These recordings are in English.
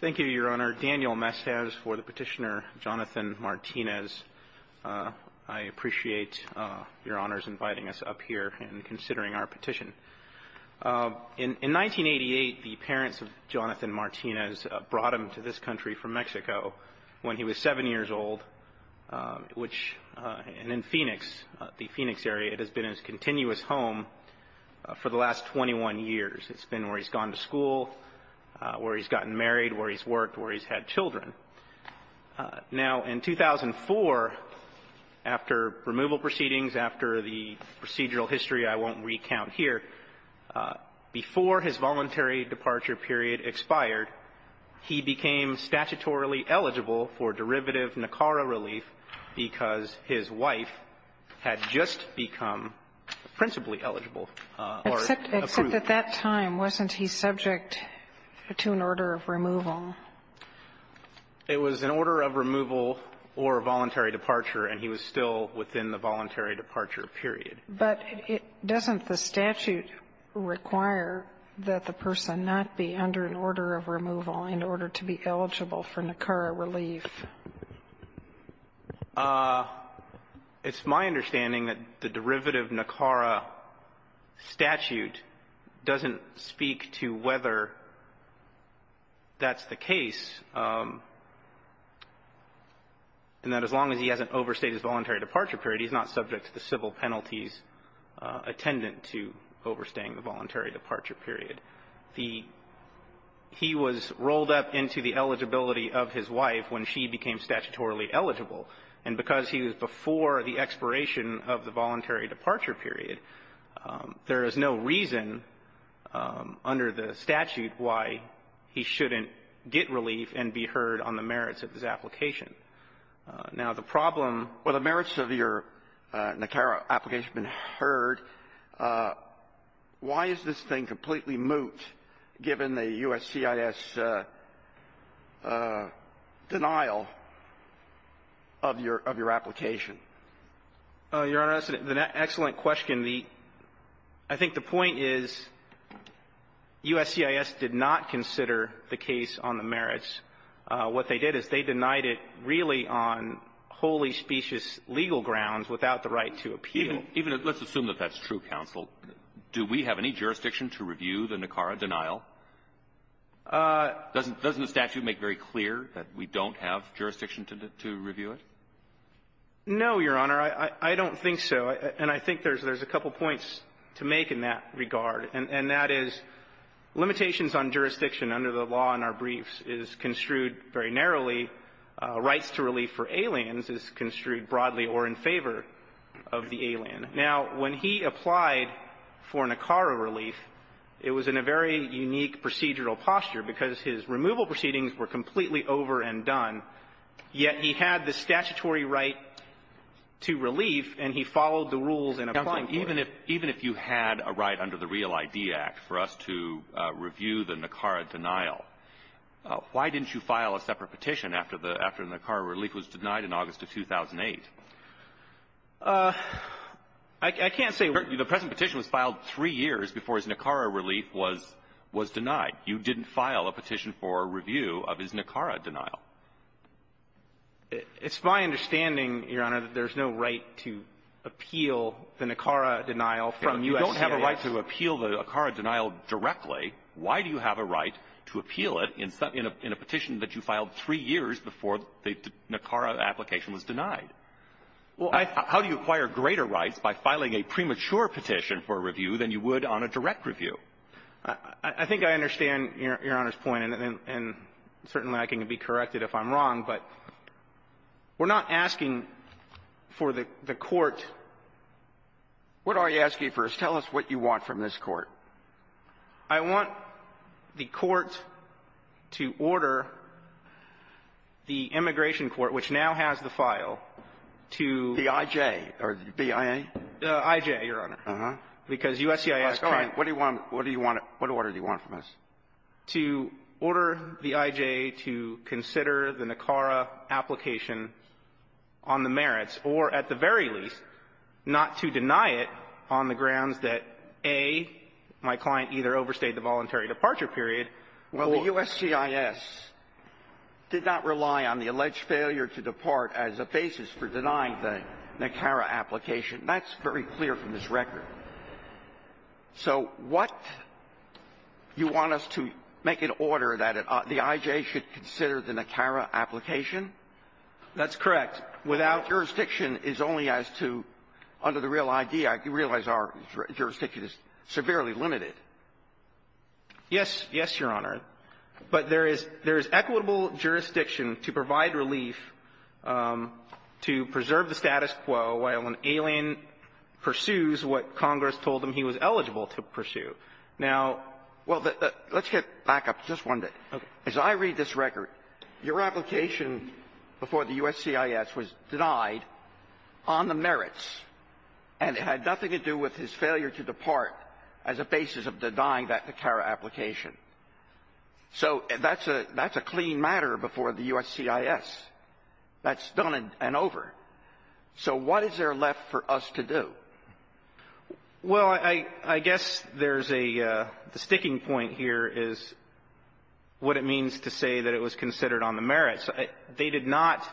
Thank you, Your Honor. Daniel Mestiz for the petitioner, Jonathan Martinez. I appreciate Your Honor's inviting us up here and considering our petition. In 1988, the parents of Jonathan Martinez brought him to this country from Mexico when he was 7 years old, which, and in Phoenix, the Phoenix area, it has been his continuous home for the last 21 years. It's been where he's gone to school, where he's gotten married, where he's worked, where he's had children. Now, in 2004, after removal proceedings, after the procedural history I won't recount here, before his voluntary departure period expired, he became statutorily eligible for derivative NACARA relief because his wife had just become principally eligible or approved. Sotomayor Except at that time, wasn't he subject to an order of removal? Holder It was an order of removal or a voluntary departure, and he was still within the voluntary departure period. Sotomayor But it doesn't the statute require that the person not be under an order of removal in order to be eligible for NACARA relief? Holder It's my understanding that the derivative NACARA statute doesn't speak to whether that's the case, and that as long as he hasn't overstayed his voluntary departure period, he's not subject to the civil penalties attendant to overstaying the voluntary departure period. And the he was rolled up into the eligibility of his wife when she became statutorily eligible, and because he was before the expiration of the voluntary departure period, there is no reason under the statute why he shouldn't get relief and be heard on the merits of his application. Now, the problem or the merits of your NACARA application have been heard. Why is this thing completely moot, given the USCIS denial of your application? Holder Your Honor, that's an excellent question. The – I think the point is USCIS did not consider the case on the merits. What they did is they denied it really on wholly specious legal grounds without the right to appeal. Even – let's assume that that's true, counsel. Do we have any jurisdiction to review the NACARA denial? Doesn't the statute make very clear that we don't have jurisdiction to review it? No, Your Honor. I don't think so. And I think there's a couple points to make in that regard, and that is limitations on jurisdiction under the law in our briefs is construed very narrowly. Rights to relief for aliens is construed broadly or in favor of the alien. Now, when he applied for NACARA relief, it was in a very unique procedural posture because his removal proceedings were completely over and done, yet he had the statutory right to relief, and he followed the rules in applying for it. Counsel, even if – even if you had a right under the REAL ID Act for us to review the NACARA denial, why didn't you file a separate petition after the – after the NACARA relief was denied in August of 2008? I can't say we – The present petition was filed three years before his NACARA relief was – was denied. You didn't file a petition for review of his NACARA denial. It's my understanding, Your Honor, that there's no right to appeal the NACARA denial from U.S. citizens. You don't have a right to appeal the NACARA denial directly. Why do you have a right to appeal it in a – in a petition that you filed three years before the NACARA application was denied? How do you acquire greater rights by filing a premature petition for review than you would on a direct review? I think I understand Your Honor's point, and certainly I can be corrected if I'm wrong. But we're not asking for the court, what are you asking for? Tell us what you want from this Court. I want the court to order the immigration court, which now has the file, to – The I.J. or the B.I.A.? The I.J., Your Honor. Uh-huh. Because U.S.C.I.S. can't – What do you want – what do you want – what order do you want from us? To order the I.J. to consider the NACARA application on the merits, or at the very least, not to deny it on the grounds that, A, my client either overstayed the voluntary departure period, or – Well, the U.S.C.I.S. did not rely on the alleged failure to depart as a basis for denying the NACARA application. That's very clear from this record. So what – you want us to make an order that it – the I.J. should consider the NACARA application? That's correct. But without jurisdiction is only as to – under the Real ID Act, you realize our jurisdiction is severely limited. Yes. Yes, Your Honor. But there is – there is equitable jurisdiction to provide relief to preserve the status quo while an alien pursues what Congress told him he was eligible to pursue. Now – Well, the – let's get back up just one bit. Okay. As I read this record, your application before the U.S.C.I.S. was denied on the merits and it had nothing to do with his failure to depart as a basis of denying that NACARA application. So that's a – that's a clean matter before the U.S.C.I.S. That's done and over. So what is there left for us to do? Well, I – I guess there's a – the sticking point here is what it means to say that it was considered on the merits. They did not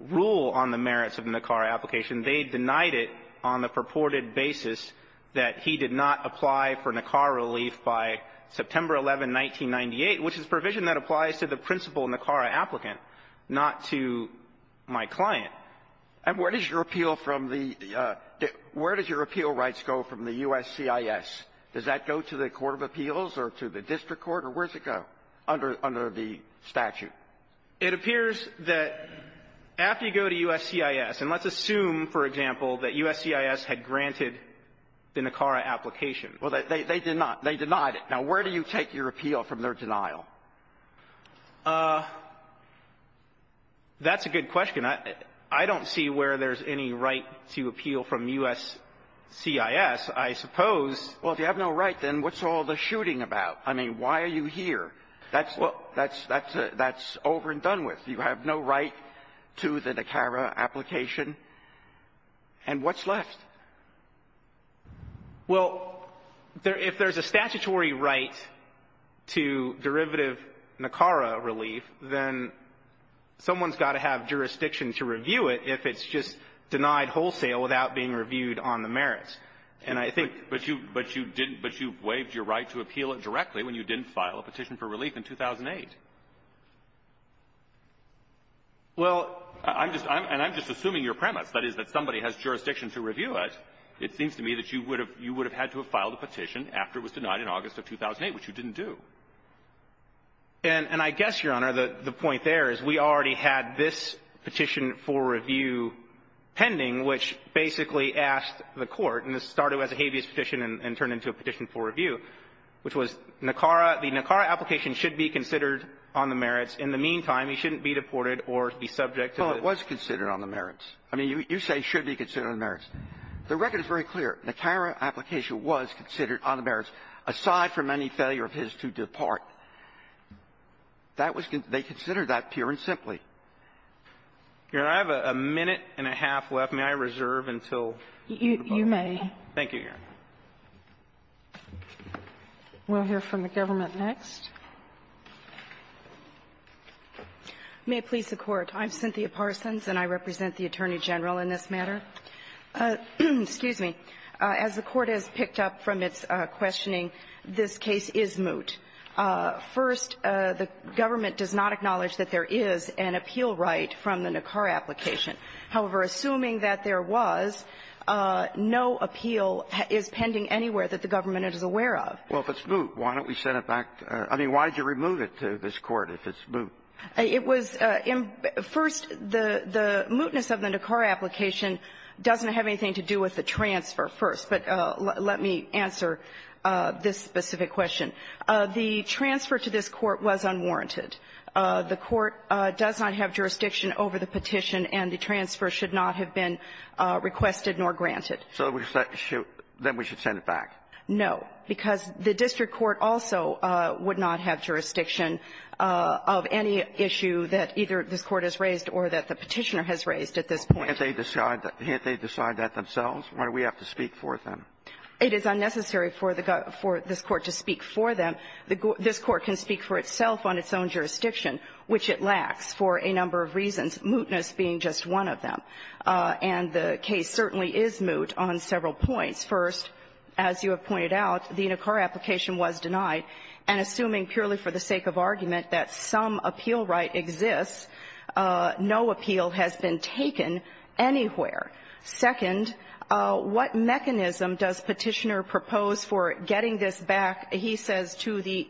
rule on the merits of the NACARA application. They denied it on the purported basis that he did not apply for NACARA relief by September 11, 1998, which is provision that applies to the principal NACARA applicant, not to my client. And where does your appeal from the – where does your appeal rights go from the U.S.C.I.S.? Does that go to the court of appeals or to the district court, or where does it go under – under the statute? It appears that after you go to U.S.C.I.S. And let's assume, for example, that U.S.C.I.S. had granted the NACARA application. Well, they – they did not. They denied it. Now, where do you take your appeal from their denial? That's a good question. I don't see where there's any right to appeal from U.S.C.I.S. I suppose. Well, if you have no right, then what's all the shooting about? I mean, why are you here? That's – that's over and done with. You have no right to the NACARA application. And what's left? Well, if you have a petition for a definitive NACARA relief, then someone's got to have jurisdiction to review it if it's just denied wholesale without being reviewed on the merits. And I think – But you – but you didn't – but you waived your right to appeal it directly when you didn't file a petition for relief in 2008. Well, I'm just – I'm – and I'm just assuming your premise, that is that somebody has jurisdiction to review it. It seems to me that you would have – you would have had to have filed a petition after it was denied in August of 2008, which you didn't do. And – and I guess, Your Honor, the point there is we already had this petition for review pending, which basically asked the Court – and this started as a habeas petition and turned into a petition for review – which was NACARA – the NACARA application should be considered on the merits. In the meantime, he shouldn't be deported or be subject to the – Well, it was considered on the merits. I mean, you – you say it should be considered on the merits. The record is very clear. NACARA application was considered on the merits, aside from any failure of his to depart. That was – they considered that pure and simply. Your Honor, I have a minute and a half left. May I reserve until the vote? You – you may. Thank you, Your Honor. We'll hear from the government next. May it please the Court. I'm Cynthia Parsons, and I represent the Attorney General in this matter. Excuse me. As the Court has picked up from its questioning, this case is moot. First, the government does not acknowledge that there is an appeal right from the NACARA application. However, assuming that there was, no appeal is pending anywhere that the government is aware of. Well, if it's moot, why don't we send it back – I mean, why did you remove it to this Court if it's moot? It was – first, the – the mootness of the NACARA application doesn't have anything to do with the transfer, first. But let me answer this specific question. The transfer to this Court was unwarranted. The Court does not have jurisdiction over the petition, and the transfer should not have been requested nor granted. So we should – then we should send it back? No, because the district court also would not have jurisdiction of any issue that either this Court has raised or that the petitioner has raised at this point. Can't they decide that themselves? Why do we have to speak for them? It is unnecessary for the – for this Court to speak for them. This Court can speak for itself on its own jurisdiction, which it lacks for a number of reasons, mootness being just one of them. And the case certainly is moot on several points. First, as you have pointed out, the NACARA application was denied, and assuming purely for the sake of argument that some appeal right exists, no appeal has been taken anywhere. Second, what mechanism does petitioner propose for getting this back, he says, to the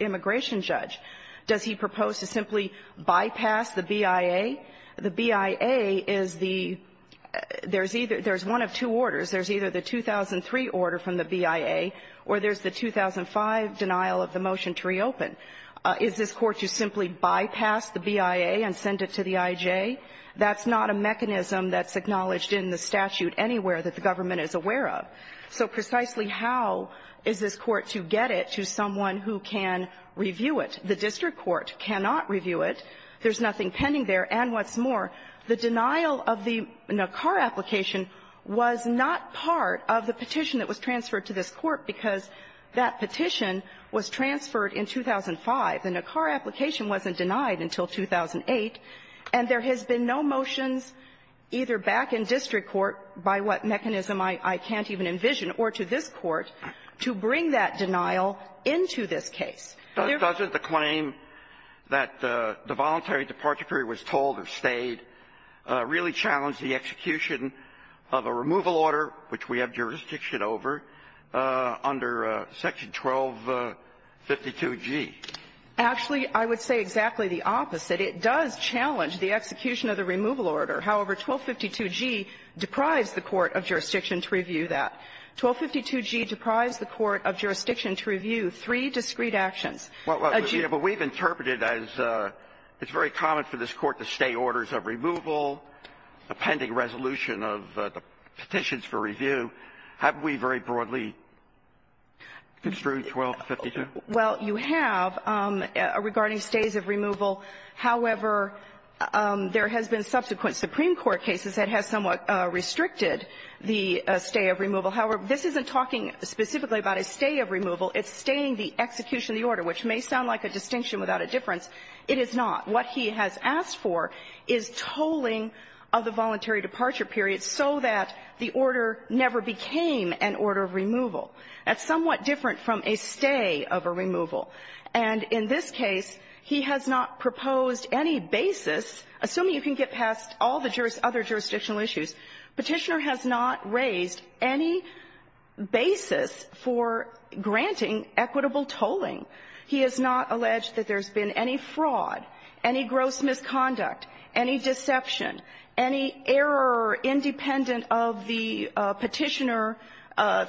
immigration judge? Does he propose to simply bypass the BIA? The BIA is the – there's either – there's one of two orders. There's either the 2003 order from the BIA, or there's the 2005 denial of the motion to reopen. Is this Court to simply bypass the BIA and send it to the IJ? That's not a mechanism that's acknowledged in the statute anywhere that the government is aware of. So precisely how is this Court to get it to someone who can review it? The district court cannot review it. There's nothing pending there. And what's more, the denial of the NACARA application was not part of the petition that was transferred to this Court because that petition was transferred in 2005. The NACARA application wasn't denied until 2008, and there has been no motions either back in district court, by what mechanism I can't even envision, or to this Court, to bring that denial into this case. Doesn't the claim that the voluntary departure period was told or stayed really challenge the execution of a removal order, which we have jurisdiction over, under Section 1252G? Actually, I would say exactly the opposite. It does challenge the execution of the removal order. However, 1252G deprives the court of jurisdiction to review that. 1252G deprives the court of jurisdiction to review three discreet actions. A G. But we've interpreted as it's very common for this Court to stay orders of removal, a pending resolution of the petitions for review. Haven't we very broadly construed 1252? Well, you have regarding stays of removal. However, there has been subsequent Supreme Court cases that has somewhat restricted the stay of removal. However, this isn't talking specifically about a stay of removal. It's staying the execution of the order, which may sound like a distinction without a difference. It is not. What he has asked for is tolling of the voluntary departure period so that the order never became an order of removal. That's somewhat different from a stay of a removal. And in this case, he has not proposed any basis, assuming you can get past all the other jurisdictional issues, Petitioner has not raised any basis for granting equitable tolling. He has not alleged that there's been any fraud, any gross misconduct, any deception, any error independent of the Petitioner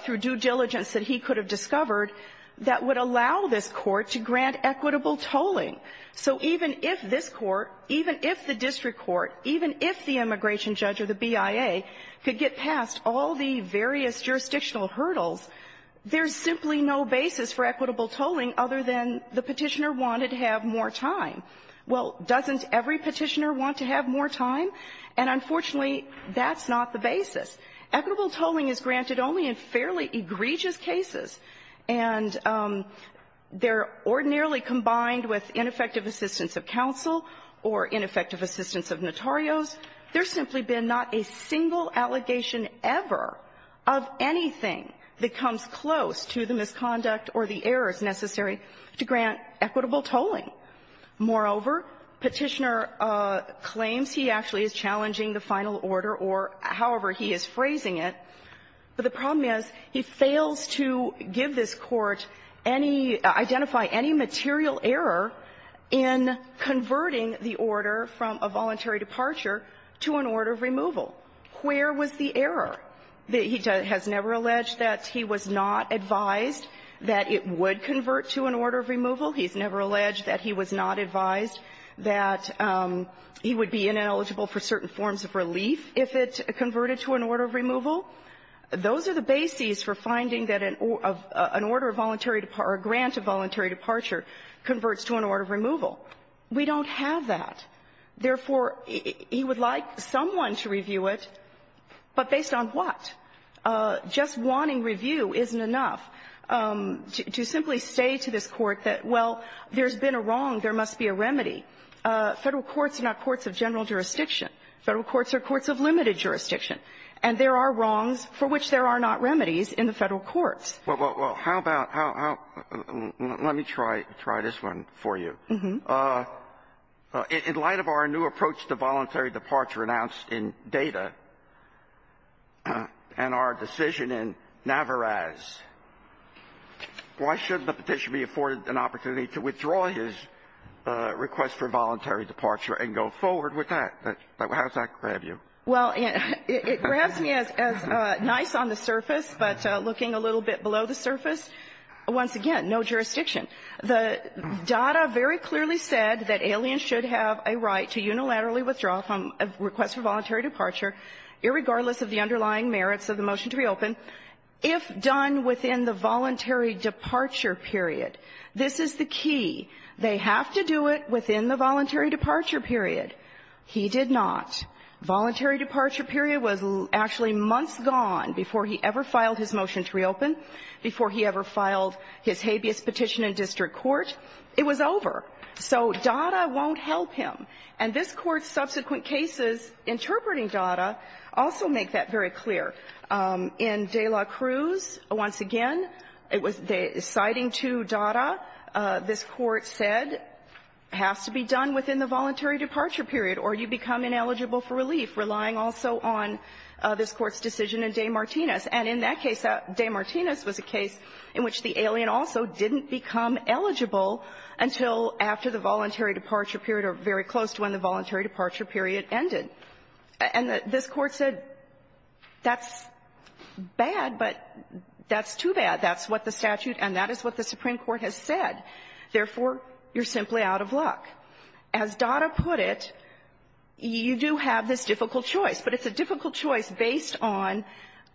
through due diligence that he could have discovered that would allow this Court to grant equitable tolling. So even if this Court, even if the district court, even if the immigration judge or the BIA could get past all the various jurisdictional hurdles, there's simply no basis for equitable tolling other than the Petitioner wanted to have more time. Well, doesn't every Petitioner want to have more time? And unfortunately, that's not the basis. Equitable tolling is granted only in fairly egregious cases. And they're ordinarily combined with ineffective assistance of counsel or ineffective assistance of notarios. There's simply been not a single allegation ever of anything that comes close to the misconduct or the errors necessary to grant equitable tolling. Moreover, Petitioner claims he actually is challenging the final order, or however he is phrasing it. But the problem is, he fails to give this Court any – identify any material error in converting the order from a voluntary departure to an order of removal. Where was the error? He has never alleged that he was not advised that it would convert to an order of removal. He's never alleged that he was not advised that he would be ineligible for certain forms of relief if it converted to an order of removal. Those are the bases for finding that an order of voluntary – or a grant of voluntary departure converts to an order of removal. We don't have that. Therefore, he would like someone to review it, but based on what? Just wanting review isn't enough. To simply say to this Court that, well, there's been a wrong, there must be a remedy. Federal courts are not courts of general jurisdiction. Federal courts are courts of limited jurisdiction. And there are wrongs for which there are not remedies in the Federal courts. Well, how about – how – let me try this one for you. Uh-huh. In light of our new approach to voluntary departure announced in Data and our decision in Navarraz, why shouldn't the Petitioner be afforded an opportunity to withdraw his request for voluntary departure and go forward with that? How does that grab you? Well, it grabs me as nice on the surface, but looking a little bit below the surface, once again, no jurisdiction. The data very clearly said that aliens should have a right to unilaterally withdraw from a request for voluntary departure, irregardless of the underlying merits of the motion to reopen, if done within the voluntary departure period. This is the key. They have to do it within the voluntary departure period. He did not. Voluntary departure period was actually months gone before he ever filed his motion to reopen, before he ever filed his habeas petition in district court. It was over. So Data won't help him. And this Court's subsequent cases interpreting Data also make that very clear. In de la Cruz, once again, it was – citing to Data, this Court said, has to be done within the voluntary departure period, or you become ineligible for relief, relying also on this Court's decision in De Martinis. And in that case, De Martinis was a case in which the alien also didn't become eligible until after the voluntary departure period or very close to when the voluntary departure period ended. And this Court said, that's bad, but that's too bad. That's what the statute and that is what the Supreme Court has said. Therefore, you're simply out of luck. As Data put it, you do have this difficult choice, but it's a difficult choice based on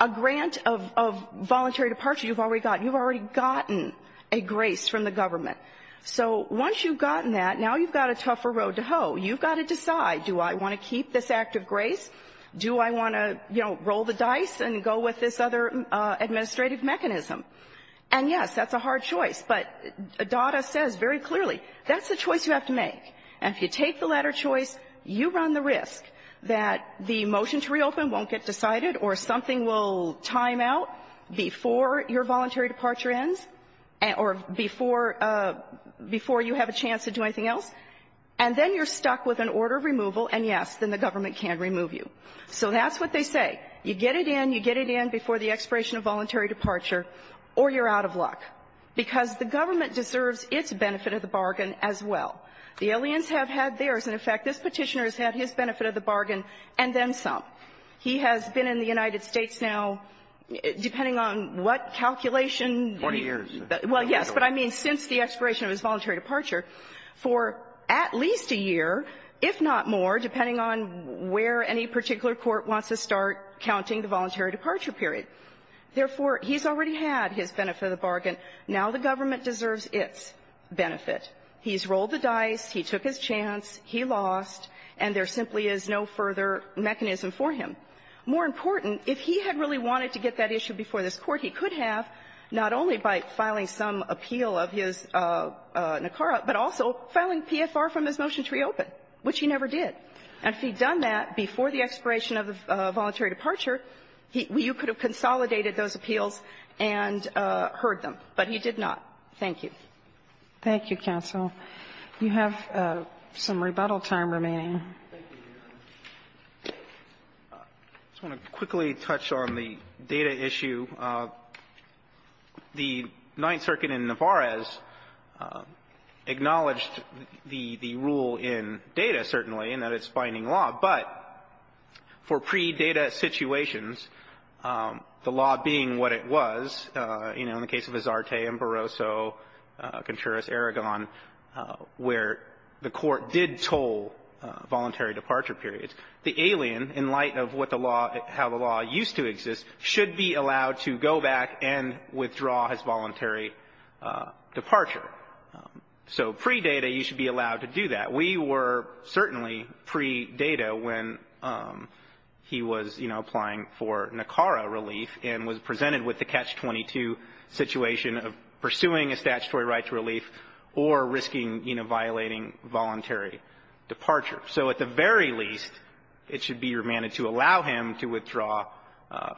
a grant of voluntary departure you've already gotten. You've already gotten a grace from the government. So once you've gotten that, now you've got a tougher road to hoe. You've got to decide, do I want to keep this act of grace? Do I want to, you know, roll the dice and go with this other administrative mechanism? And, yes, that's a hard choice. But Data says very clearly, that's the choice you have to make. And if you take the latter choice, you run the risk that the motion to reopen won't get decided or something will time out before your voluntary departure ends or before you have a chance to do anything else. And then you're stuck with an order of removal, and, yes, then the government can't remove you. So that's what they say. You get it in, you get it in before the expiration of voluntary departure, or you're out of luck. Because the government deserves its benefit of the bargain as well. The aliens have had theirs. And, in fact, this Petitioner has had his benefit of the bargain and then some. He has been in the United States now, depending on what calculation he has. Alito. Well, yes, but I mean since the expiration of his voluntary departure, for at least a year, if not more, depending on where any particular court wants to start counting the voluntary departure period. Therefore, he's already had his benefit of the bargain. Now the government deserves its benefit. He's rolled the dice, he took his chance, he lost, and there simply is no further mechanism for him. More important, if he had really wanted to get that issue before this Court, he could have, not only by filing some appeal of his NACARA, but also filing PFR from his motion to reopen, which he never did. And if he'd done that before the expiration of the voluntary departure, he – you could have consolidated those appeals and heard them, but he did not. Thank you. Thank you, counsel. You have some rebuttal time remaining. I just want to quickly touch on the data issue. The Ninth Circuit in Navarez acknowledged the rule in data, certainly, and that it's binding law, but for pre-data situations, the law being what it was, you know, in the case of Azarte, Amparoso, Contreras, Aragon, where the court did toll voluntary departure periods, the alien, in light of what the law – how the law used to exist, should be allowed to go back and withdraw his voluntary departure. So pre-data, you should be allowed to do that. We were certainly pre-data when he was, you know, applying for NACARA relief and was presented with the Catch-22 situation of pursuing a statutory right to relief or risking, you know, violating voluntary departure. So at the very least, it should be remanded to allow him to withdraw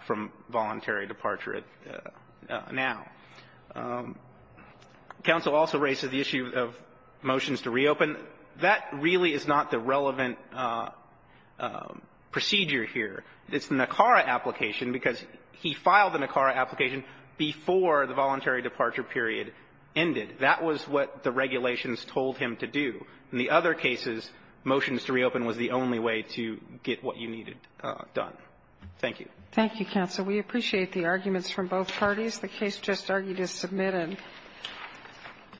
from voluntary departure now. Counsel also raises the issue of motions to reopen. That really is not the relevant procedure here. It's the NACARA application, because he filed the NACARA application before the voluntary departure period ended. That was what the regulations told him to do. In the other cases, motions to reopen was the only way to get what you needed done. Thank you. Thank you, counsel. We appreciate the arguments from both parties. The case just argued is submitted.